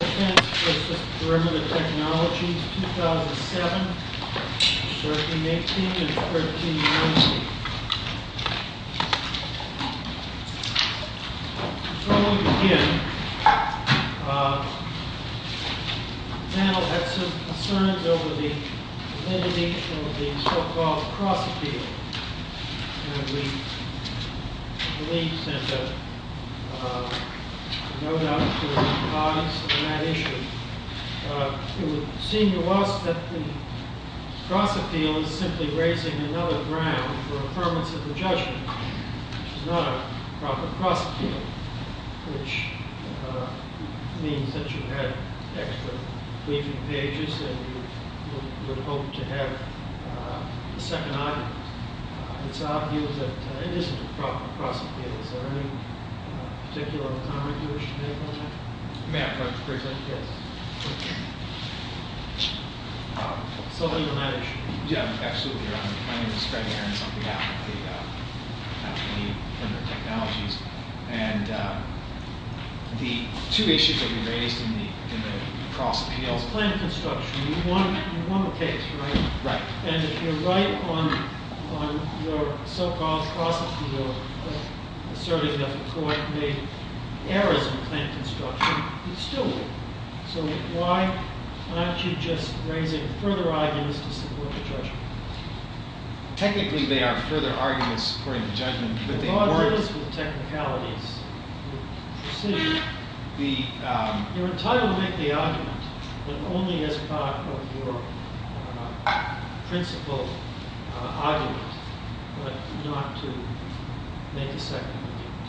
Fence v. Perimeter Technology, 2007, 13-18, and 13-19. Before we begin, the panel had some concerns over the elimination of the so-called cross-appeal. And we believe, Senator, no doubt to advise on that issue. It would seem to us that the cross-appeal is simply raising another ground for affirmance of the judgment, which is not a proper cross-appeal, which means that you had extra leafing pages and you would hope to have a second argument. It's obvious that it isn't a proper cross-appeal. Is there any particular comment you wish to make on that? May I present? Yes. Somebody on that issue. Yeah, absolutely, Your Honor. My name is Greg Aaron. I'll be happy to help any Perimeter Technologies. And the two issues that we raised in the cross-appeals is plant construction. You won the case, right? Right. And if you're right on your so-called cross-appeal, asserting that McCoy made errors in plant construction, he still would. So why aren't you just raising further arguments to support the judgment? Technically, they are further arguments supporting the judgment. The problem is with technicalities, with precision. You're entitled to make the argument, but only as part of your principle argument, but not to make a second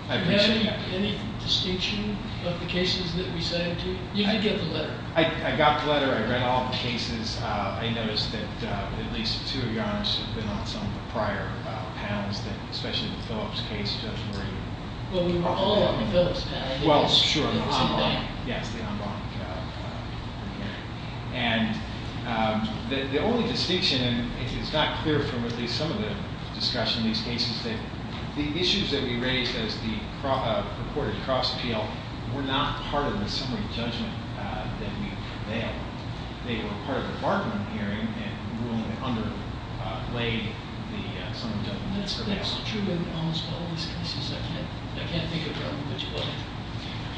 argument. Do you have any distinction of the cases that we signed to? You did get the letter. I got the letter. I read all the cases. I noticed that at least two of your honors have been on some of the prior panels, especially the Phillips case, Judge Murray. Well, we were all on the Phillips panel. Well, sure. The en banc. Yes, the en banc hearing. And the only distinction, and it's not clear from at least some of the discussion in these cases, is that the issues that we raised as the purported cross-appeal were not part of the summary judgment that we prevailed. They were part of the Barberman hearing, and the ruling underlayed the summary judgment that prevailed. That's absolutely true in almost all of these cases. I can't think of them individually.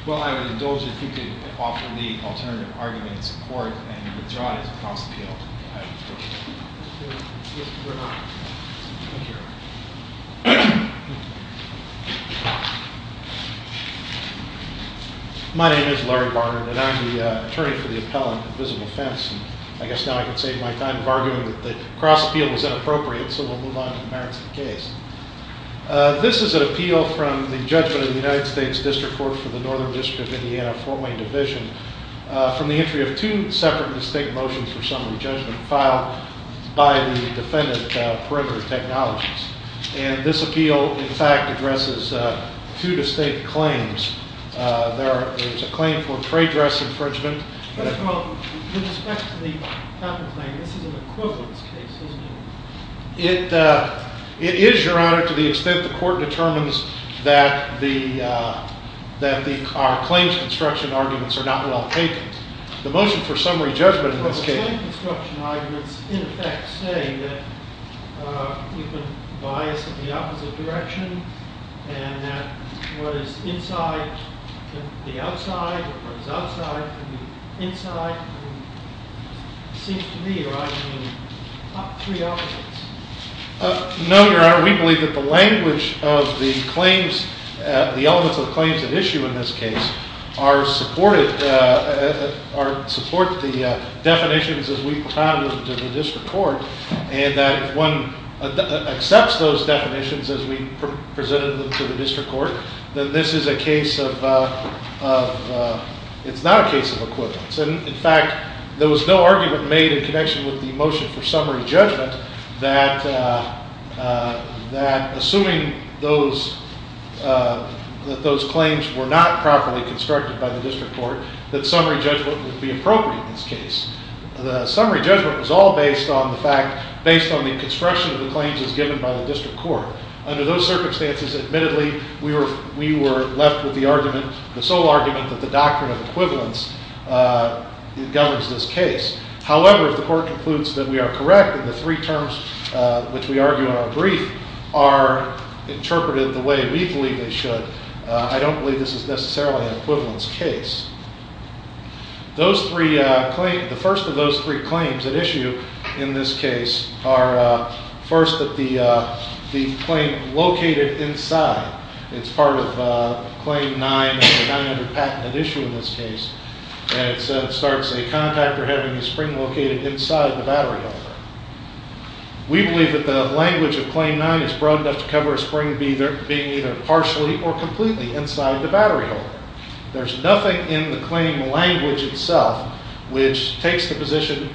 Well, I would indulge you to offer the alternative argument in support and withdraw it as a cross-appeal. I withdraw it. We're not. Thank you. My name is Larry Barber, and I'm the attorney for the appellant at Visible Fence. I guess now I can save my time arguing that the cross-appeal was inappropriate, so we'll move on to the merits of the case. This is an appeal from the judgment of the United States District Court for the Northern District of Indiana Fort Wayne Division from the entry of two separate distinct motions for summary judgment filed by the defendant, Perimeter Technologies. And this appeal, in fact, addresses two distinct claims. There's a claim for trade dress infringement. First of all, with respect to the counterclaim, this is an equivalence case, isn't it? It is, Your Honor, to the extent the court determines that our claims construction arguments are not well taken. The motion for summary judgment in this case... Well, the claims construction arguments, in effect, say that we've been biased in the opposite direction and that what is inside can be outside and what is outside can be inside. It seems to me you're arguing three opposites. No, Your Honor. We believe that the language of the claims, the elements of the claims at issue in this case, support the definitions as we propounded them to the district court and that if one accepts those definitions as we presented them to the district court, then this is a case of... It's not a case of equivalence. In fact, there was no argument made in connection with the motion for summary judgment that assuming that those claims were not properly constructed by the district court, that summary judgment would be appropriate in this case. The summary judgment was all based on the construction of the claims as given by the district court. Under those circumstances, admittedly, we were left with the argument, the legal argument that the doctrine of equivalence governs this case. However, if the court concludes that we are correct and the three terms which we argue in our brief are interpreted the way we believe they should, I don't believe this is necessarily an equivalence case. The first of those three claims at issue in this case are first the claim located inside. It's part of Claim 9, the 900 patent at issue in this case. It starts a contactor having a spring located inside the battery holder. We believe that the language of Claim 9 is broad enough to cover a spring being either partially or completely inside the battery holder. There's nothing in the claim language itself which takes the position,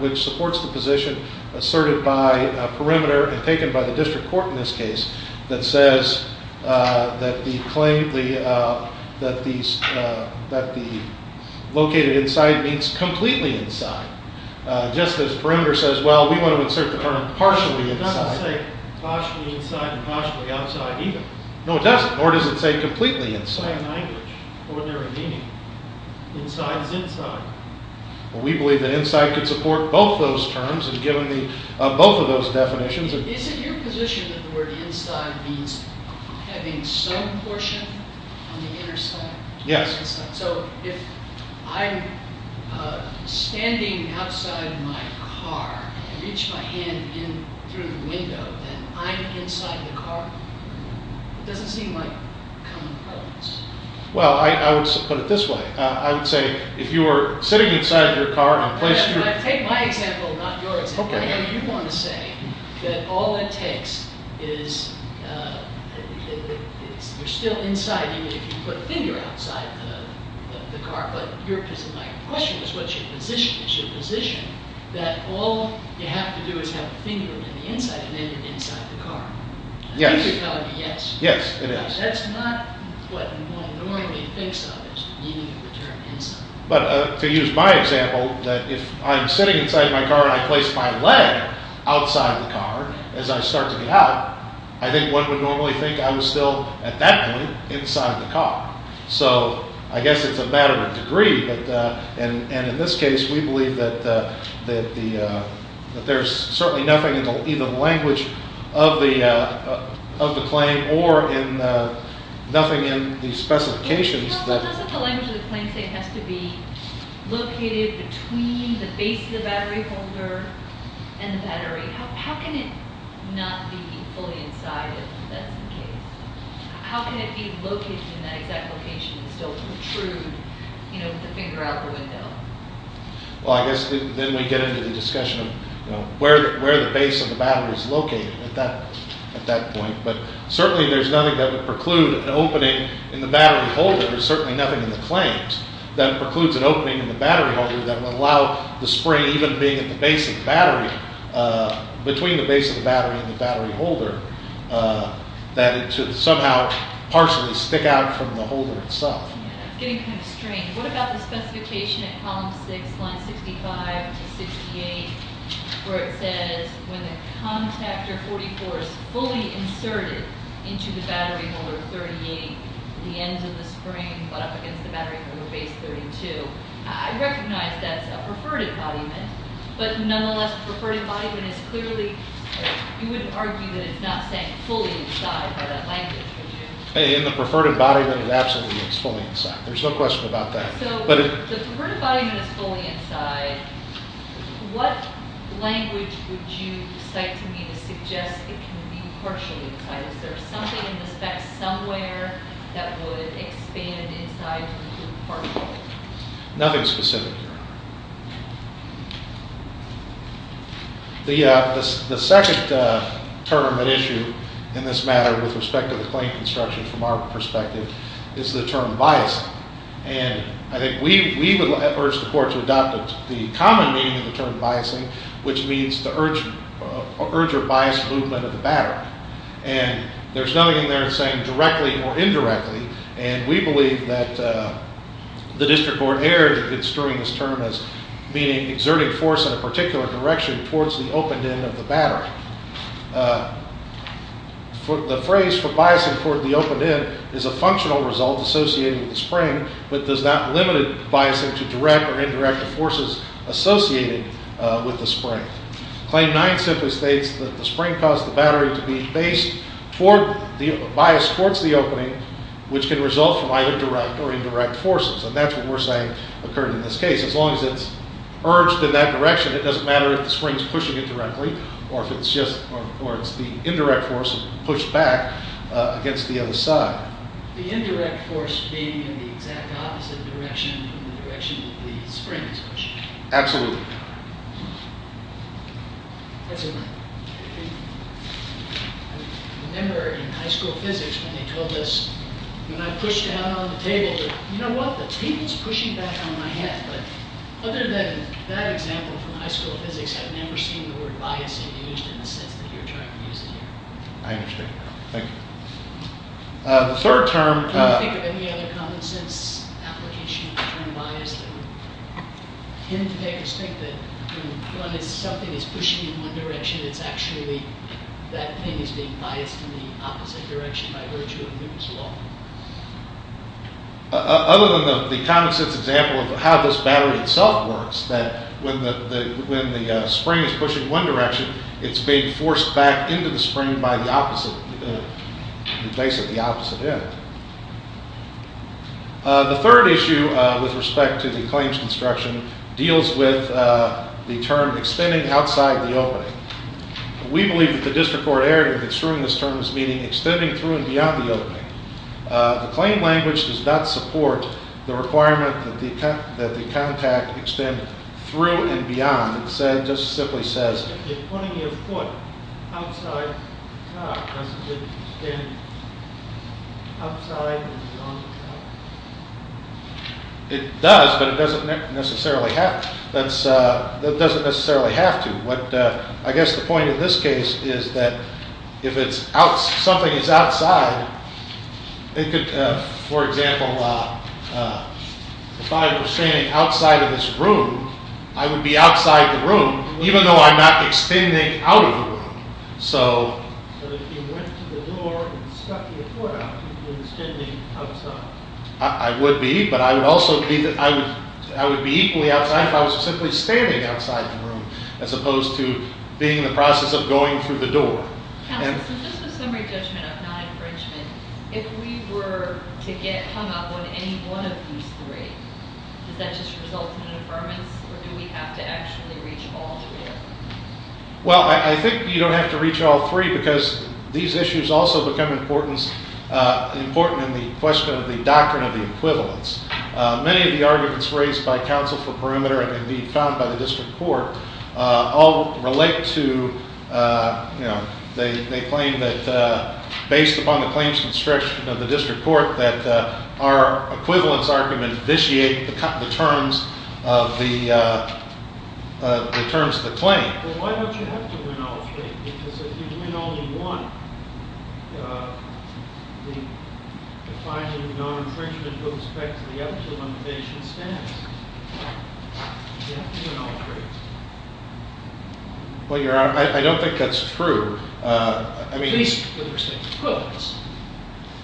which supports the position asserted by a perimeter and taken by the district court in this case that says that the claim, that the located inside means completely inside. Just as perimeter says, well, we want to insert the term partially inside. It doesn't say partially inside and partially outside either. No, it doesn't, nor does it say completely inside. It's the same language, ordinary meaning. Inside is inside. Well, we believe that inside could support both those terms and given both of those definitions. Is it your position that the word inside means having some portion on the inner side? Yes. So if I'm standing outside my car and reach my hand in through the window and I'm inside the car, it doesn't seem like a common prevalence. Well, I would put it this way. I would say if you were sitting inside your car and placed your... that all it takes is you're still inside even if you put a finger outside the car. But my question is what's your position? Is your position that all you have to do is have a finger on the inside and then you're inside the car? Yes. I think you're telling me yes. Yes, it is. That's not what one normally thinks of as the meaning of the term inside. But to use my example, that if I'm sitting inside my car and I place my leg outside the car as I start to get out, I think one would normally think I was still at that point inside the car. So I guess it's a matter of degree. And in this case, we believe that there's certainly nothing in either the language of the claim or nothing in the specifications that... between the base of the battery holder and the battery. How can it not be fully inside if that's the case? How can it be located in that exact location and still protrude with the finger out the window? Well, I guess then we get into the discussion of where the base of the battery is located at that point. But certainly there's nothing that would preclude an opening in the battery holder. There's certainly nothing in the claims that precludes an opening in the battery holder that would allow the spring even being at the base of the battery, between the base of the battery and the battery holder, that it should somehow partially stick out from the holder itself. It's getting kind of strange. What about the specification at column 6, lines 65 to 68, where it says when the contactor 44 is fully inserted into the battery holder 38, the ends of the spring butt up against the battery holder base 32. I recognize that's a preferred embodiment, but nonetheless a preferred embodiment is clearly... you wouldn't argue that it's not saying fully inside by that language, would you? In the preferred embodiment it absolutely is fully inside. There's no question about that. So the preferred embodiment is fully inside. What language would you cite to me to suggest it can be partially inside? Is there something in the specs somewhere that would expand inside to partially? Nothing specific, Your Honor. The second term at issue in this matter with respect to the claim construction from our perspective is the term bias. And I think we would urge the court to adopt the common meaning of the term biasing, which means the urge or biased movement of the battery. And there's nothing in there saying directly or indirectly, and we believe that the district court erred in construing this term as meaning exerting force in a particular direction towards the opened end of the battery. The phrase for biasing toward the opened end is a functional result associated with the spring, but does not limit biasing to direct or indirect forces associated with the spring. Claim 9 simply states that the spring caused the battery to be based toward, the bias towards the opening, which can result from either direct or indirect forces. And that's what we're saying occurred in this case. As long as it's urged in that direction, it doesn't matter if the spring's pushing it directly or if it's just, or it's the indirect force pushed back against the other side. The indirect force being in the exact opposite direction from the direction the spring is pushing. Absolutely. That's a good point. I remember in high school physics when they told us, when I pushed down on the table, they said, you know what, the table's pushing back on my head. But other than that example from high school physics, I've never seen the word biasing used in the sense that you're trying to use it here. I understand. Thank you. The third term. Do you think of any other common sense application of the term bias that would tend to make us think that when something is pushing in one direction, it's actually that thing is being biased in the opposite direction by virtue of Newton's law? Other than the common sense example of how this battery itself works, that when the spring is pushing one direction, it's being forced back into the spring by the opposite, basically the opposite end. The third issue with respect to the claims construction deals with the term extending outside the opening. We believe that the district court error in construing this term is meaning extending through and beyond the opening. The claim language does not support the requirement that the contact extend through and beyond. It just simply says... If you're putting your foot outside the car, doesn't it extend outside and beyond the car? It does, but it doesn't necessarily have to. I guess the point in this case is that if something is outside, it could, for example, if I was standing outside of this room, I would be outside the room even though I'm not extending out of the room. So if you went to the door and stuck your foot out, you'd be extending outside? I would be, but I would also be equally outside if I was simply standing outside the room as opposed to being in the process of going through the door. Counsel, so just a summary judgment of Nye and Frenchman. If we were to get hung up on any one of these three, does that just result in an affirmance or do we have to actually reach all three of them? Well, I think you don't have to reach all three because these issues also become important in the question of the doctrine of the equivalence. Many of the arguments raised by counsel for perimeter and indeed found by the district court all relate to... They claim that based upon the claims construction of the district court that our equivalence argument vitiate the terms of the claim. Well, why don't you have to win all three? Because if you win only one, the finding of non-infringement goes back to the actual limitation status. You have to win all three. Well, Your Honor, I don't think that's true. At least with respect to equivalence.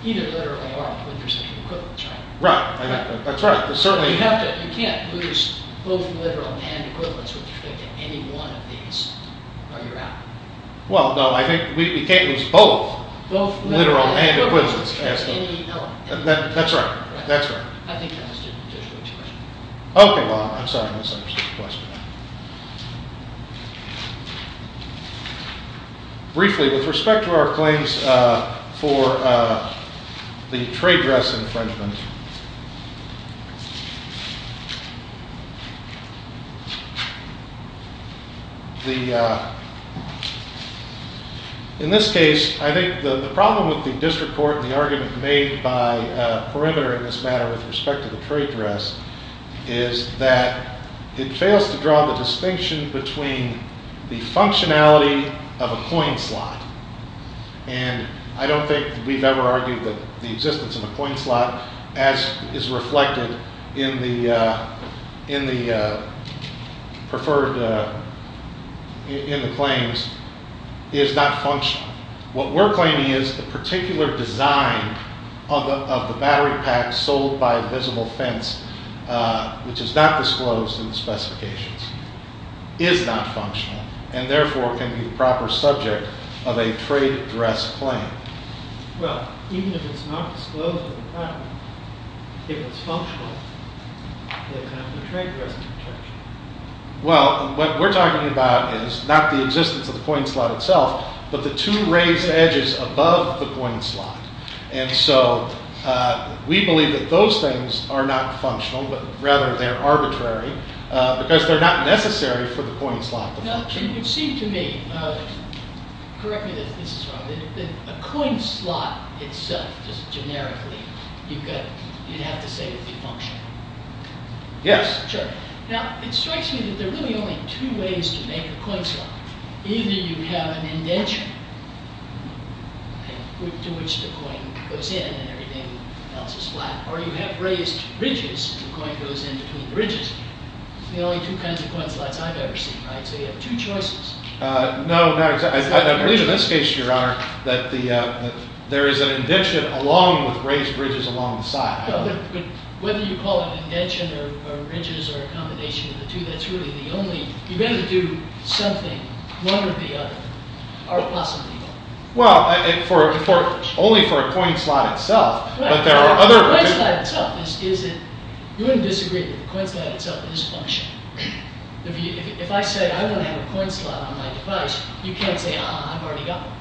Either literally or with respect to equivalence, right? Right, that's right. You can't lose both literal and equivalence with respect to any one of these. Or you're out. Well, no, I think we can't lose both literal and equivalence. As any element. That's right. I think I understood Judge Wood's question. Okay, well, I'm sorry I misunderstood the question. Briefly, with respect to our claims for the trade dress infringement. The... In this case, I think the problem with the district court and the argument made by perimeter in this matter with respect to the trade dress is that it fails to draw the distinction between the functionality of a coin slot. And I don't think we've ever argued that the existence of a coin slot as is reflected in the... preferred... in the claims is not functional. What we're claiming is the particular design of the battery pack sold by a visible fence which is not disclosed in the specifications is not functional and therefore can be the proper subject of a trade dress claim. Well, what we're talking about is not the existence of the coin slot itself but the two raised edges above the coin slot. And so we believe that those things are not functional but rather they're arbitrary because they're not necessary for the coin slot to function. Yes. No. No. I believe in this case, Your Honor, that there is an indention along with raised ridges along the side. But whether you call it indention or ridges or a combination of the two, that's really the only... You've got to do something, one or the other. Or possibly both. Well, only for a coin slot itself. But there are other... The coin slot itself is... You wouldn't disagree that the coin slot itself is functional. If I say I want to have a coin slot on my device you can't say, ah, I've already got one.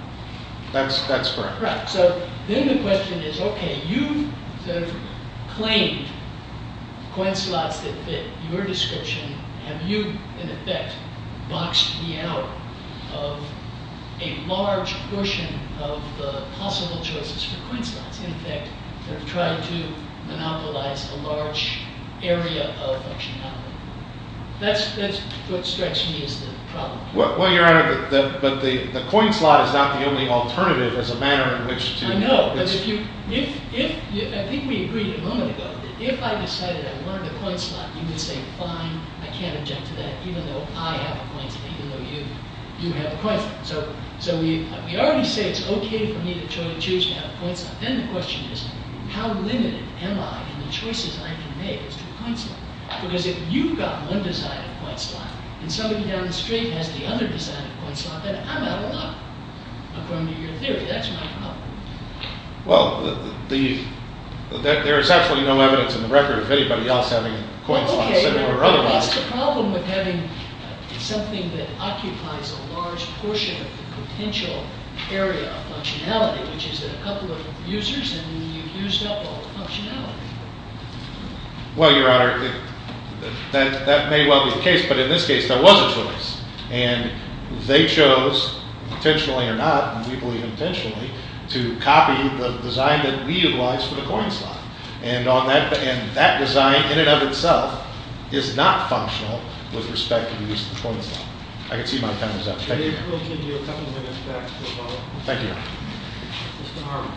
That's correct. So then the question is, okay, you've claimed coin slots that fit your description. Have you, in effect, boxed me out of a large portion of the possible choices for coin slots, in effect, that try to monopolize a large area of functionality? That's what strikes me as the problem. Well, Your Honor, but the coin slot is not the only alternative as a manner in which to... I know, but if you... I think we agreed a moment ago that if I decided I wanted a coin slot you would say, fine, I can't object to that even though I have a coin slot, even though you do have a coin slot. So we already say it's okay for me to choose to have a coin slot. Then the question is, how limited am I in the choices I can make as to a coin slot? Because if you've got one design of a coin slot and somebody down the street has the other design of a coin slot, then I'm out of luck, according to your theory. That's my problem. Well, there is absolutely no evidence in the record of anybody else having a coin slot. Okay, but what's the problem with having something that occupies a large portion of the potential area of functionality, which is a couple of users, and you've used up all the functionality? Well, Your Honor, that may well be the case, but in this case, there was a choice. And they chose, intentionally or not, and we believe intentionally, to copy the design that we utilized for the coin slot. And that design, in and of itself, is not functional with respect to the use of the coin slot. I can see my time is up. Thank you, Your Honor. Thank you, Your Honor. Mr. Harwell.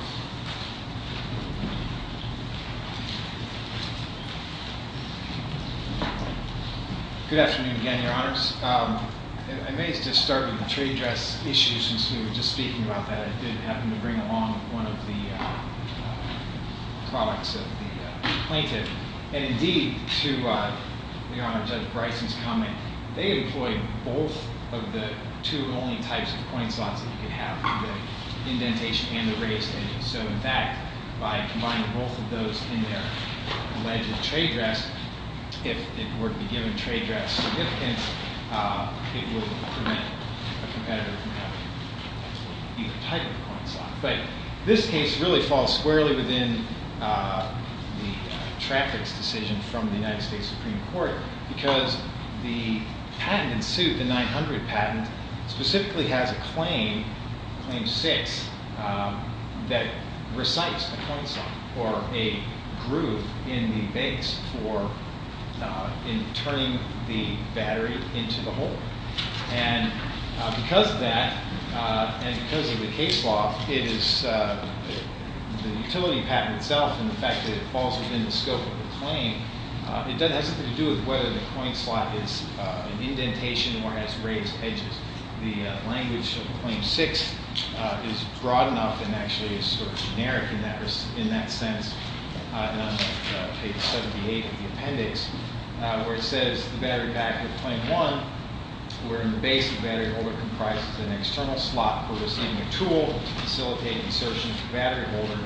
Good afternoon again, Your Honors. I may just start with the trade dress issue, since we were just speaking about that. I did happen to bring along one of the products of the plaintiff. And indeed, to Your Honor, Judge Bryson's comment, they employed both of the two only types of coin slots that you could have for the indentation and the raised end. So in fact, by combining both of those in their alleged trade dress, if it were to be given trade dress significance, it would prevent a competitor from having either type of coin slot. But this case really falls squarely within the traffic's decision from the United States Supreme Court, because the patent in suit, the 900 patent, specifically has a claim, Claim 6, that recites the coin slot, or a groove in the base for turning the battery into the hole. And because of that, and because of the case law, the utility patent itself, and the fact that it falls within the scope of the claim, it doesn't have anything to do with whether the coin slot is an indentation or has raised edges. The language of Claim 6 is broad enough and actually is sort of generic in that sense. And I'm going to take page 78 of the appendix, where it says the battery pack of Claim 1, where in the base of the battery holder comprises an external slot for receiving a tool to facilitate insertion of the battery holder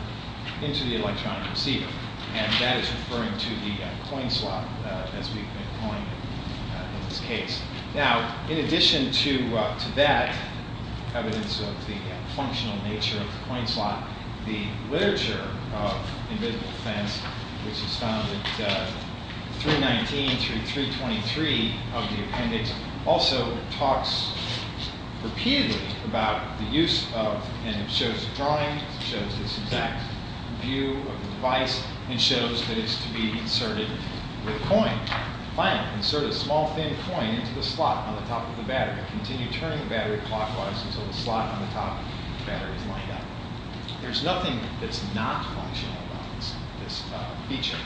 into the electronic receiver. And that is referring to the coin slot, as we've been calling it in this case. Now, in addition to that, evidence of the functional nature of the coin slot, the literature of Invisible Defense, which is found at 319 through 323 of the appendix, also talks repeatedly about the use of, it shows this exact view of the device, and shows that it's to be inserted with a coin. Finally, insert a small, thin coin into the slot on the top of the battery. Continue turning the battery clockwise until the slot on the top of the battery is lined up. There's nothing that's not functional about this feature.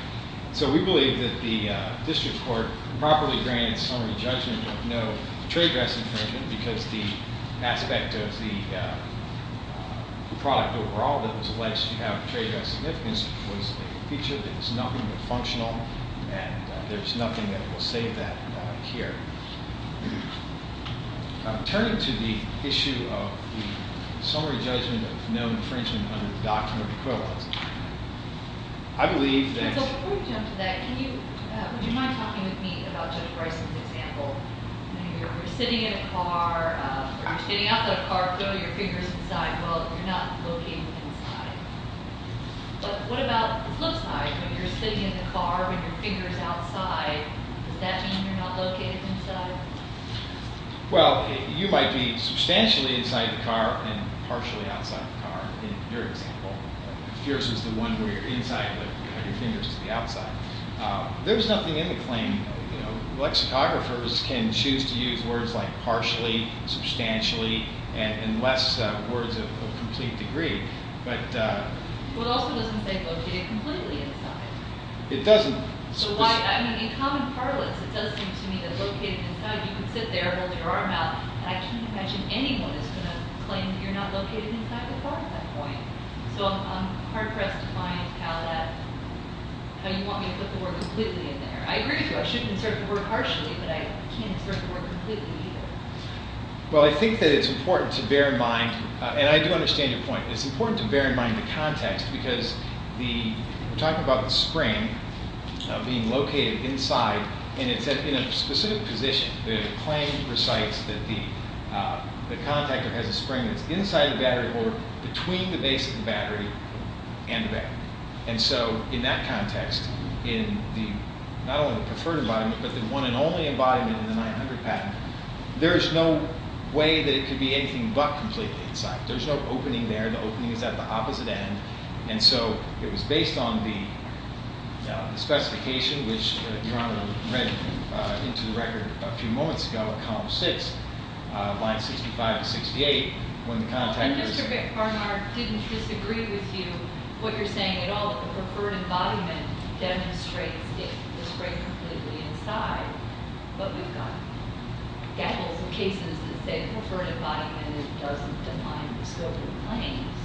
So we believe that the district court properly grants summary judgment of no trade dress infringement because the aspect of the product overall that was alleged to have trade dress significance was a feature that is nothing but functional, and there's nothing that will save that here. Turning to the issue of the summary judgment of no infringement under the Doctrine of Equivalence, I believe that... So before we jump to that, would you mind talking with me about Judge Bryson's example? You're sitting in a car, or you're standing outside a car, putting your fingers inside. Well, you're not looking inside. But what about the flip side? You're sitting in the car with your fingers outside. Does that mean you're not looking inside? Well, you might be substantially inside the car and partially outside the car in your example. Yours is the one where you're inside, but you have your fingers to the outside. There's nothing in the claim. Lexicographers can choose to use words like partially, substantially, and less words of complete degree. Well, it also doesn't say located completely inside. It doesn't. In common parlance, it does seem to me that located inside, you can sit there, hold your arm out, and I can't imagine anyone is going to claim that you're not located inside the car at that point. So I'm hard-pressed to find how you want me to put the word completely in there. I agree with you, I should insert the word partially, but I can't insert the word completely either. Well, I think that it's important to bear in mind, and I do understand your point, it's important to bear in mind the context because we're talking about the spring being located inside, and it's in a specific position. The claim recites that the contactor has a spring that's inside the battery holder between the base of the battery and the battery. And so in that context, in not only the preferred embodiment, but the one and only embodiment in the 900 patent, there's no way that it could be anything but completely. There's no opening there. The opening is at the opposite end. And so it was based on the specification, which Your Honor read into the record a few moments ago, column 6, lines 65 to 68, when the contactor... And Mr. Bickfarmar didn't disagree with you, what you're saying at all, that the preferred embodiment demonstrates the spring completely inside. But we've got gavels and cases that say that the preferred embodiment doesn't define the scope of the claims.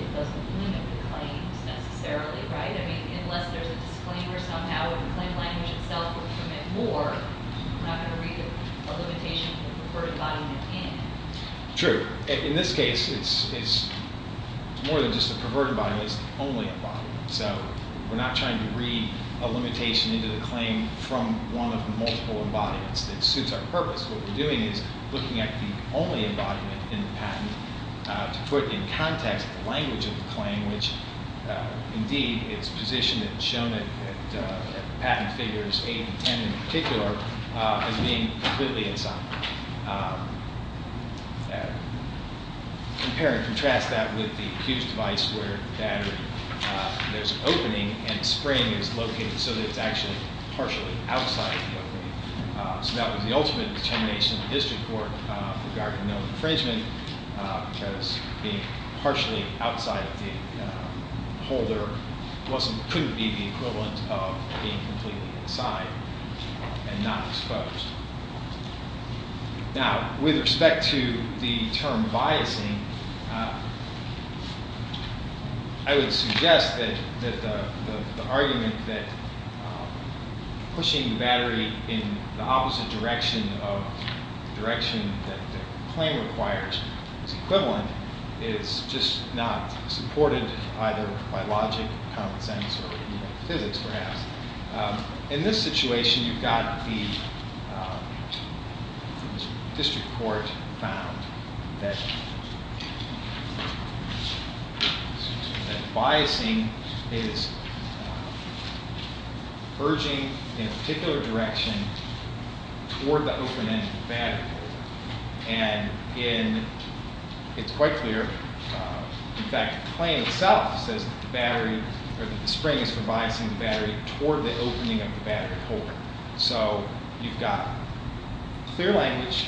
It doesn't limit the claims necessarily, right? I mean, unless there's a disclaimer somehow and the claim language itself would permit more, I'm not going to read a limitation from the preferred embodiment in. True. In this case, it's more than just a perverted embodiment. It's the only embodiment. So we're not trying to read a limitation into the claim from one of the multiple embodiments that suits our purpose. What we're doing is looking at the only embodiment in the patent to put in context the language of the claim, which, indeed, it's positioned and shown at patent figures 8 and 10 in particular as being completely inside. Compare and contrast that with the huge device where there's an opening and spring is located so that it's actually partially outside the opening. So that was the ultimate determination of the district court regarding no infringement because being partially outside the holder couldn't be the equivalent of being completely inside and not exposed. Now, with respect to the term biasing, I would suggest that the argument that pushing the battery in the opposite direction of the direction that the claim requires is equivalent is just not supported either by logic, common sense, or even physics, perhaps. In this situation, you've got the district court found that biasing is urging in a particular direction toward the opening of the battery holder. And it's quite clear, in fact, the claim itself says that the spring is for biasing the battery toward the opening of the battery holder. So you've got clear language,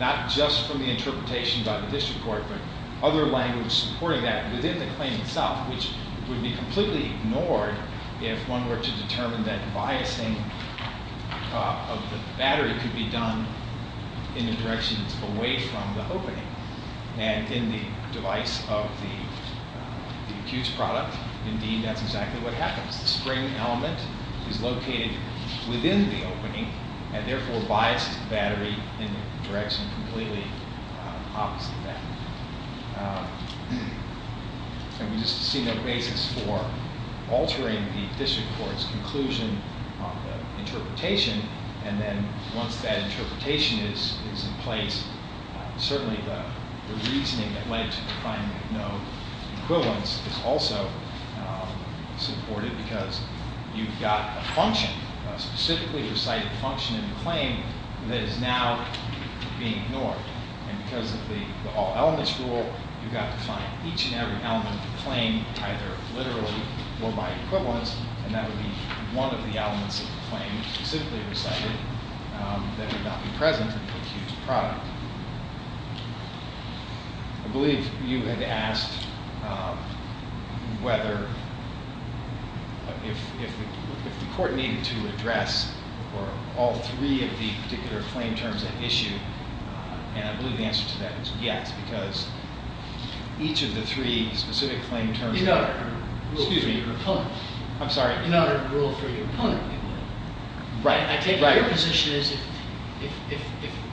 not just from the interpretation by the district court, but other language supporting that within the claim itself, which would be completely ignored if one were to determine that biasing of the battery could be done in the directions away from the opening. And in the device of the accused product, indeed, that's exactly what happens. The spring element is located within the opening and therefore biases the battery in the direction completely opposite of that. And we just see no basis for altering the district court's conclusion on the interpretation. And then once that interpretation is in place, certainly the reasoning that led to the finding of no equivalence is also supported because you've got a function, a specifically recited function in the claim that is now being ignored. And because of the all elements rule, you've got to find each and every element of the claim, either literally or by equivalence, and that would be one of the elements of the claim specifically recited that would not be present in the accused product. I believe you had asked whether if the court needed to address all three of the particular claim terms at issue. And I believe the answer to that was yes because each of the three specific claim terms in order to rule for your opponent. I'm sorry? In order to rule for your opponent. Right. I take your position as if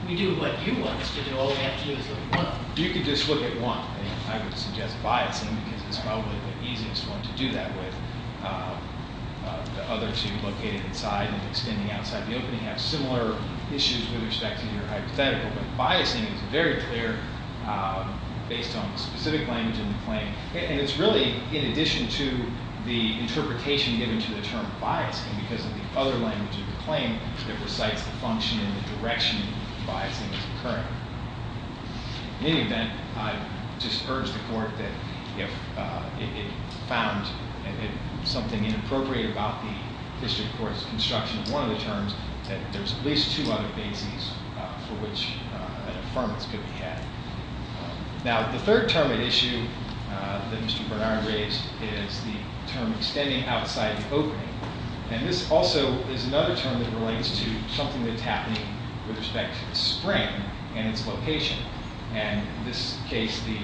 we do what you want us to do, all we have to do is look at one. You could just look at one. I would suggest biasing because it's probably the easiest one to do that with. The other two, located inside and extending outside the opening, have similar issues with respect to your hypothetical. But biasing is very clear based on the specific language in the claim. And it's really, in addition to the interpretation given to the term biasing because of the other language of the claim that recites the function and the direction that biasing is occurring. In any event, I just urge the court that if it found something inappropriate about the district court's construction of one of the terms, that there's at least two other bases for which an affirmance could be had. Now, the third term at issue that Mr. Bernard raised is the term extending outside the opening. And this also is another term that relates to something that's happening with respect to the spring and its location. And in this case, the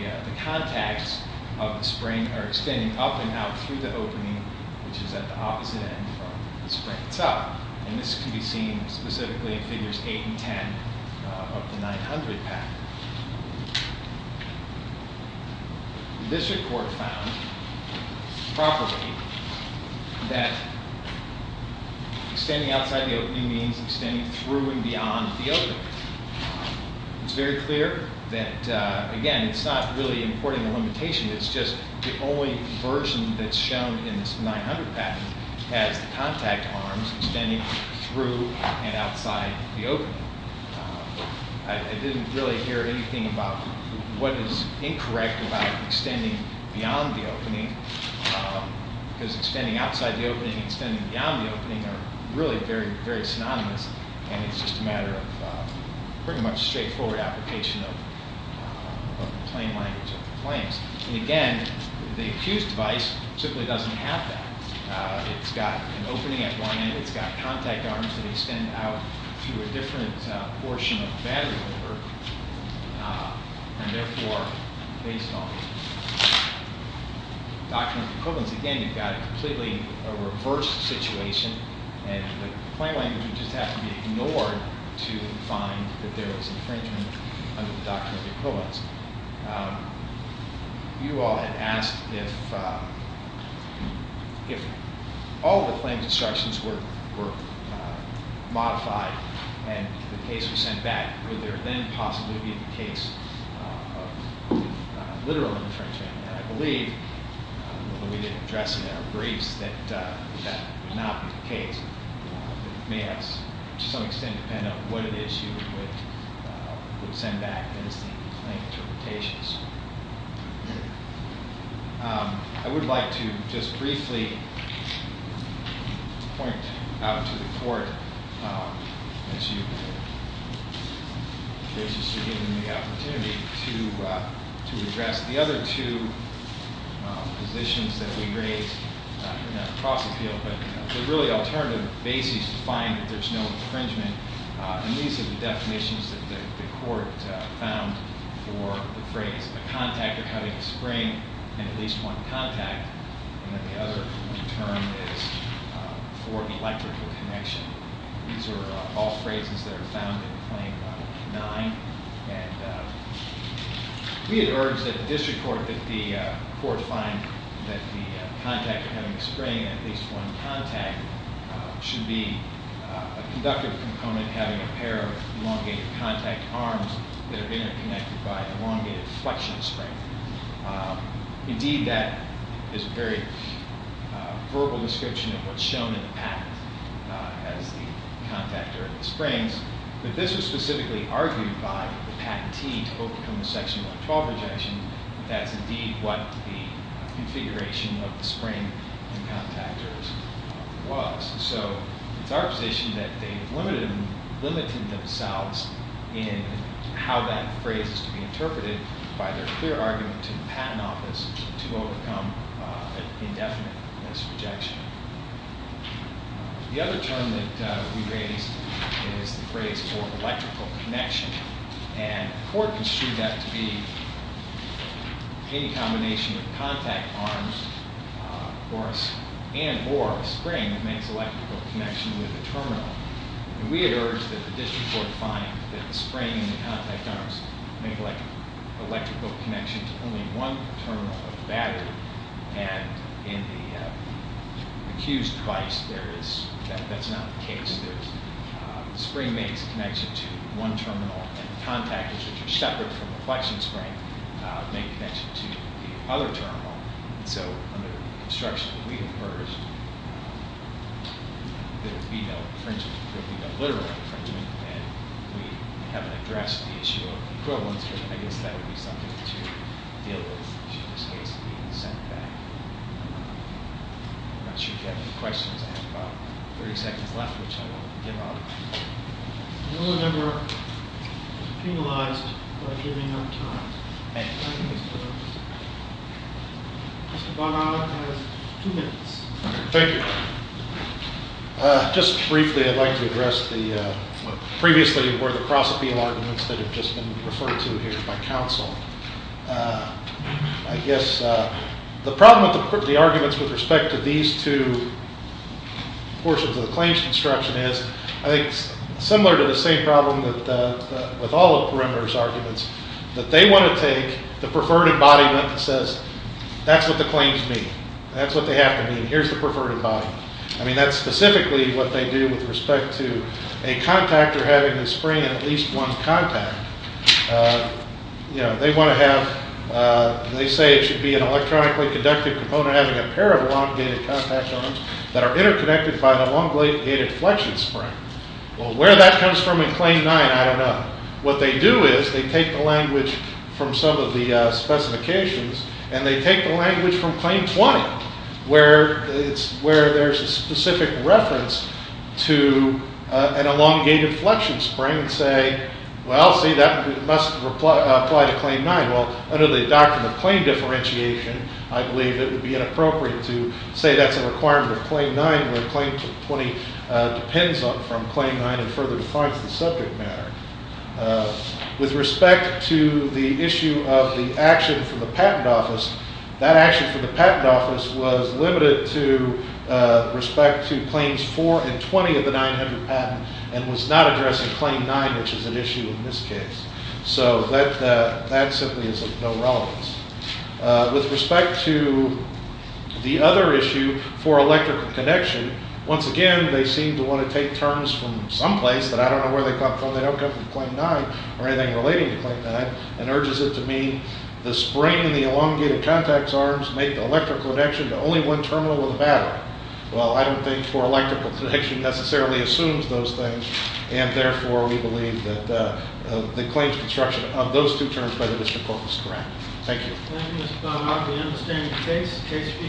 contacts of the spring are extending up and out through the opening, which is at the opposite end from the spring itself. And this can be seen specifically in figures 8 and 10 of the 900 pact. The district court found properly that extending outside the opening means extending through and beyond the opening. It's very clear that, again, it's not really importing a limitation. It's just the only version that's shown in this 900 pact has the contact arms extending through and outside the opening. I didn't really hear anything about what is incorrect about extending beyond the opening, because extending outside the opening and extending beyond the opening are really very, very synonymous. And it's just a matter of pretty much straightforward application of the plain language of the claims. And again, the accused device simply doesn't have that. It's got an opening at one end. It's got contact arms that extend out through a different portion of the battery holder. And therefore, based on the doctrines of equivalence, again, you've got a completely reversed situation. And the plain language would just have to be ignored to find that there was infringement under the doctrines of equivalence. You all had asked if all the claims instructions were modified and the case was sent back, would there then possibly be the case of literal infringement? And I believe, although we didn't address it in our briefs, that that would not be the case. It may have, to some extent, depended on what it is you would send back as the plain interpretations. I would like to just briefly point out to the court that you've graciously given me the opportunity to address the other two positions that we raised in that cross-appeal. But they're really alternative bases to find that there's no infringement. And these are the definitions that the court found for the phrase, a contactor having a spring and at least one contact. And then the other term is for the electrical connection. These are all phrases that are found in Claim 9. And we had urged at the district court that the court find that the contactor having a spring and at least one contact should be a conductive component having a pair of elongated contact arms that are interconnected by an elongated flexion spring. Indeed, that is a very verbal description of what's shown in the patent as the contactor of the springs. But this was specifically argued by the patentee to overcome the section 112 rejection that that's indeed what the configuration of the spring and contactors was. So it's our position that they have limited themselves in how that phrase is to be interpreted by their clear argument in the patent office to overcome an indefinite rejection. The other term that we raised is the phrase for electrical connection. And the court construed that to be any combination of contact arms and or a spring makes electrical connection with a terminal. And we had urged that the district court find that the spring and the contact arms make electrical connection to only one terminal of the battery. And in the accused device, that's not the case. The spring makes connection to one terminal and the contactors, which are separate from the flexion spring, make connection to the other terminal. So under construction, we have urged that it be no literal infringement. And we haven't addressed the issue of equivalence. But I guess that would be something to deal with, should this case be sent back. I'm not sure if you have any questions. I have about 30 seconds left, which I will give up. I don't remember penalized by giving up time. Mr. Barnard has two minutes. Thank you. Just briefly, I'd like to address what previously were the prosopial arguments that have just been referred to here by counsel. I guess the problem with the arguments with respect to these two portions of the claims construction is, I think, similar to the same problem with all of Perimeter's arguments, that they want to take the preferred embodiment that says, that's what the claims mean. That's what they have to mean. Here's the preferred embodiment. I mean, that's specifically what they do with respect to a contactor having the spring in at least one contact. They want to have, they say it should be an electronically conductive component having a pair of elongated contact arms that are interconnected by an elongated flexion spring. Well, where that comes from in Claim 9, I don't know. What they do is, they take the language from some of the specifications, and they take the language from Claim 20, where there's a specific reference to an elongated flexion spring and say, well, see, that must apply to Claim 9. Well, under the doctrine of claim differentiation, I believe it would be inappropriate to say that's a requirement of Claim 9, where Claim 20 depends on from Claim 9 and further defines the subject matter. With respect to the issue of the action from the Patent Office, that action from the Patent Office was limited to respect to Claims 4 and 20 of the 900 patent and was not addressing Claim 9, which is an issue in this case. So that simply is of no relevance. With respect to the other issue for electrical connection, once again, they seem to want to take terms from someplace that I don't know where they come from. They don't come from Claim 9 or anything relating to Claim 9 and urges it to mean the spring and the elongated contacts arms make the electrical connection to only one terminal of the battery. Well, I don't think for electrical connection necessarily assumes those things. And therefore, we believe that the claims construction of those two terms by the District Court is correct. Thank you. Thank you, Mr. Thodd. We understand the case. The case will be taken into the public. Thank you. All rise.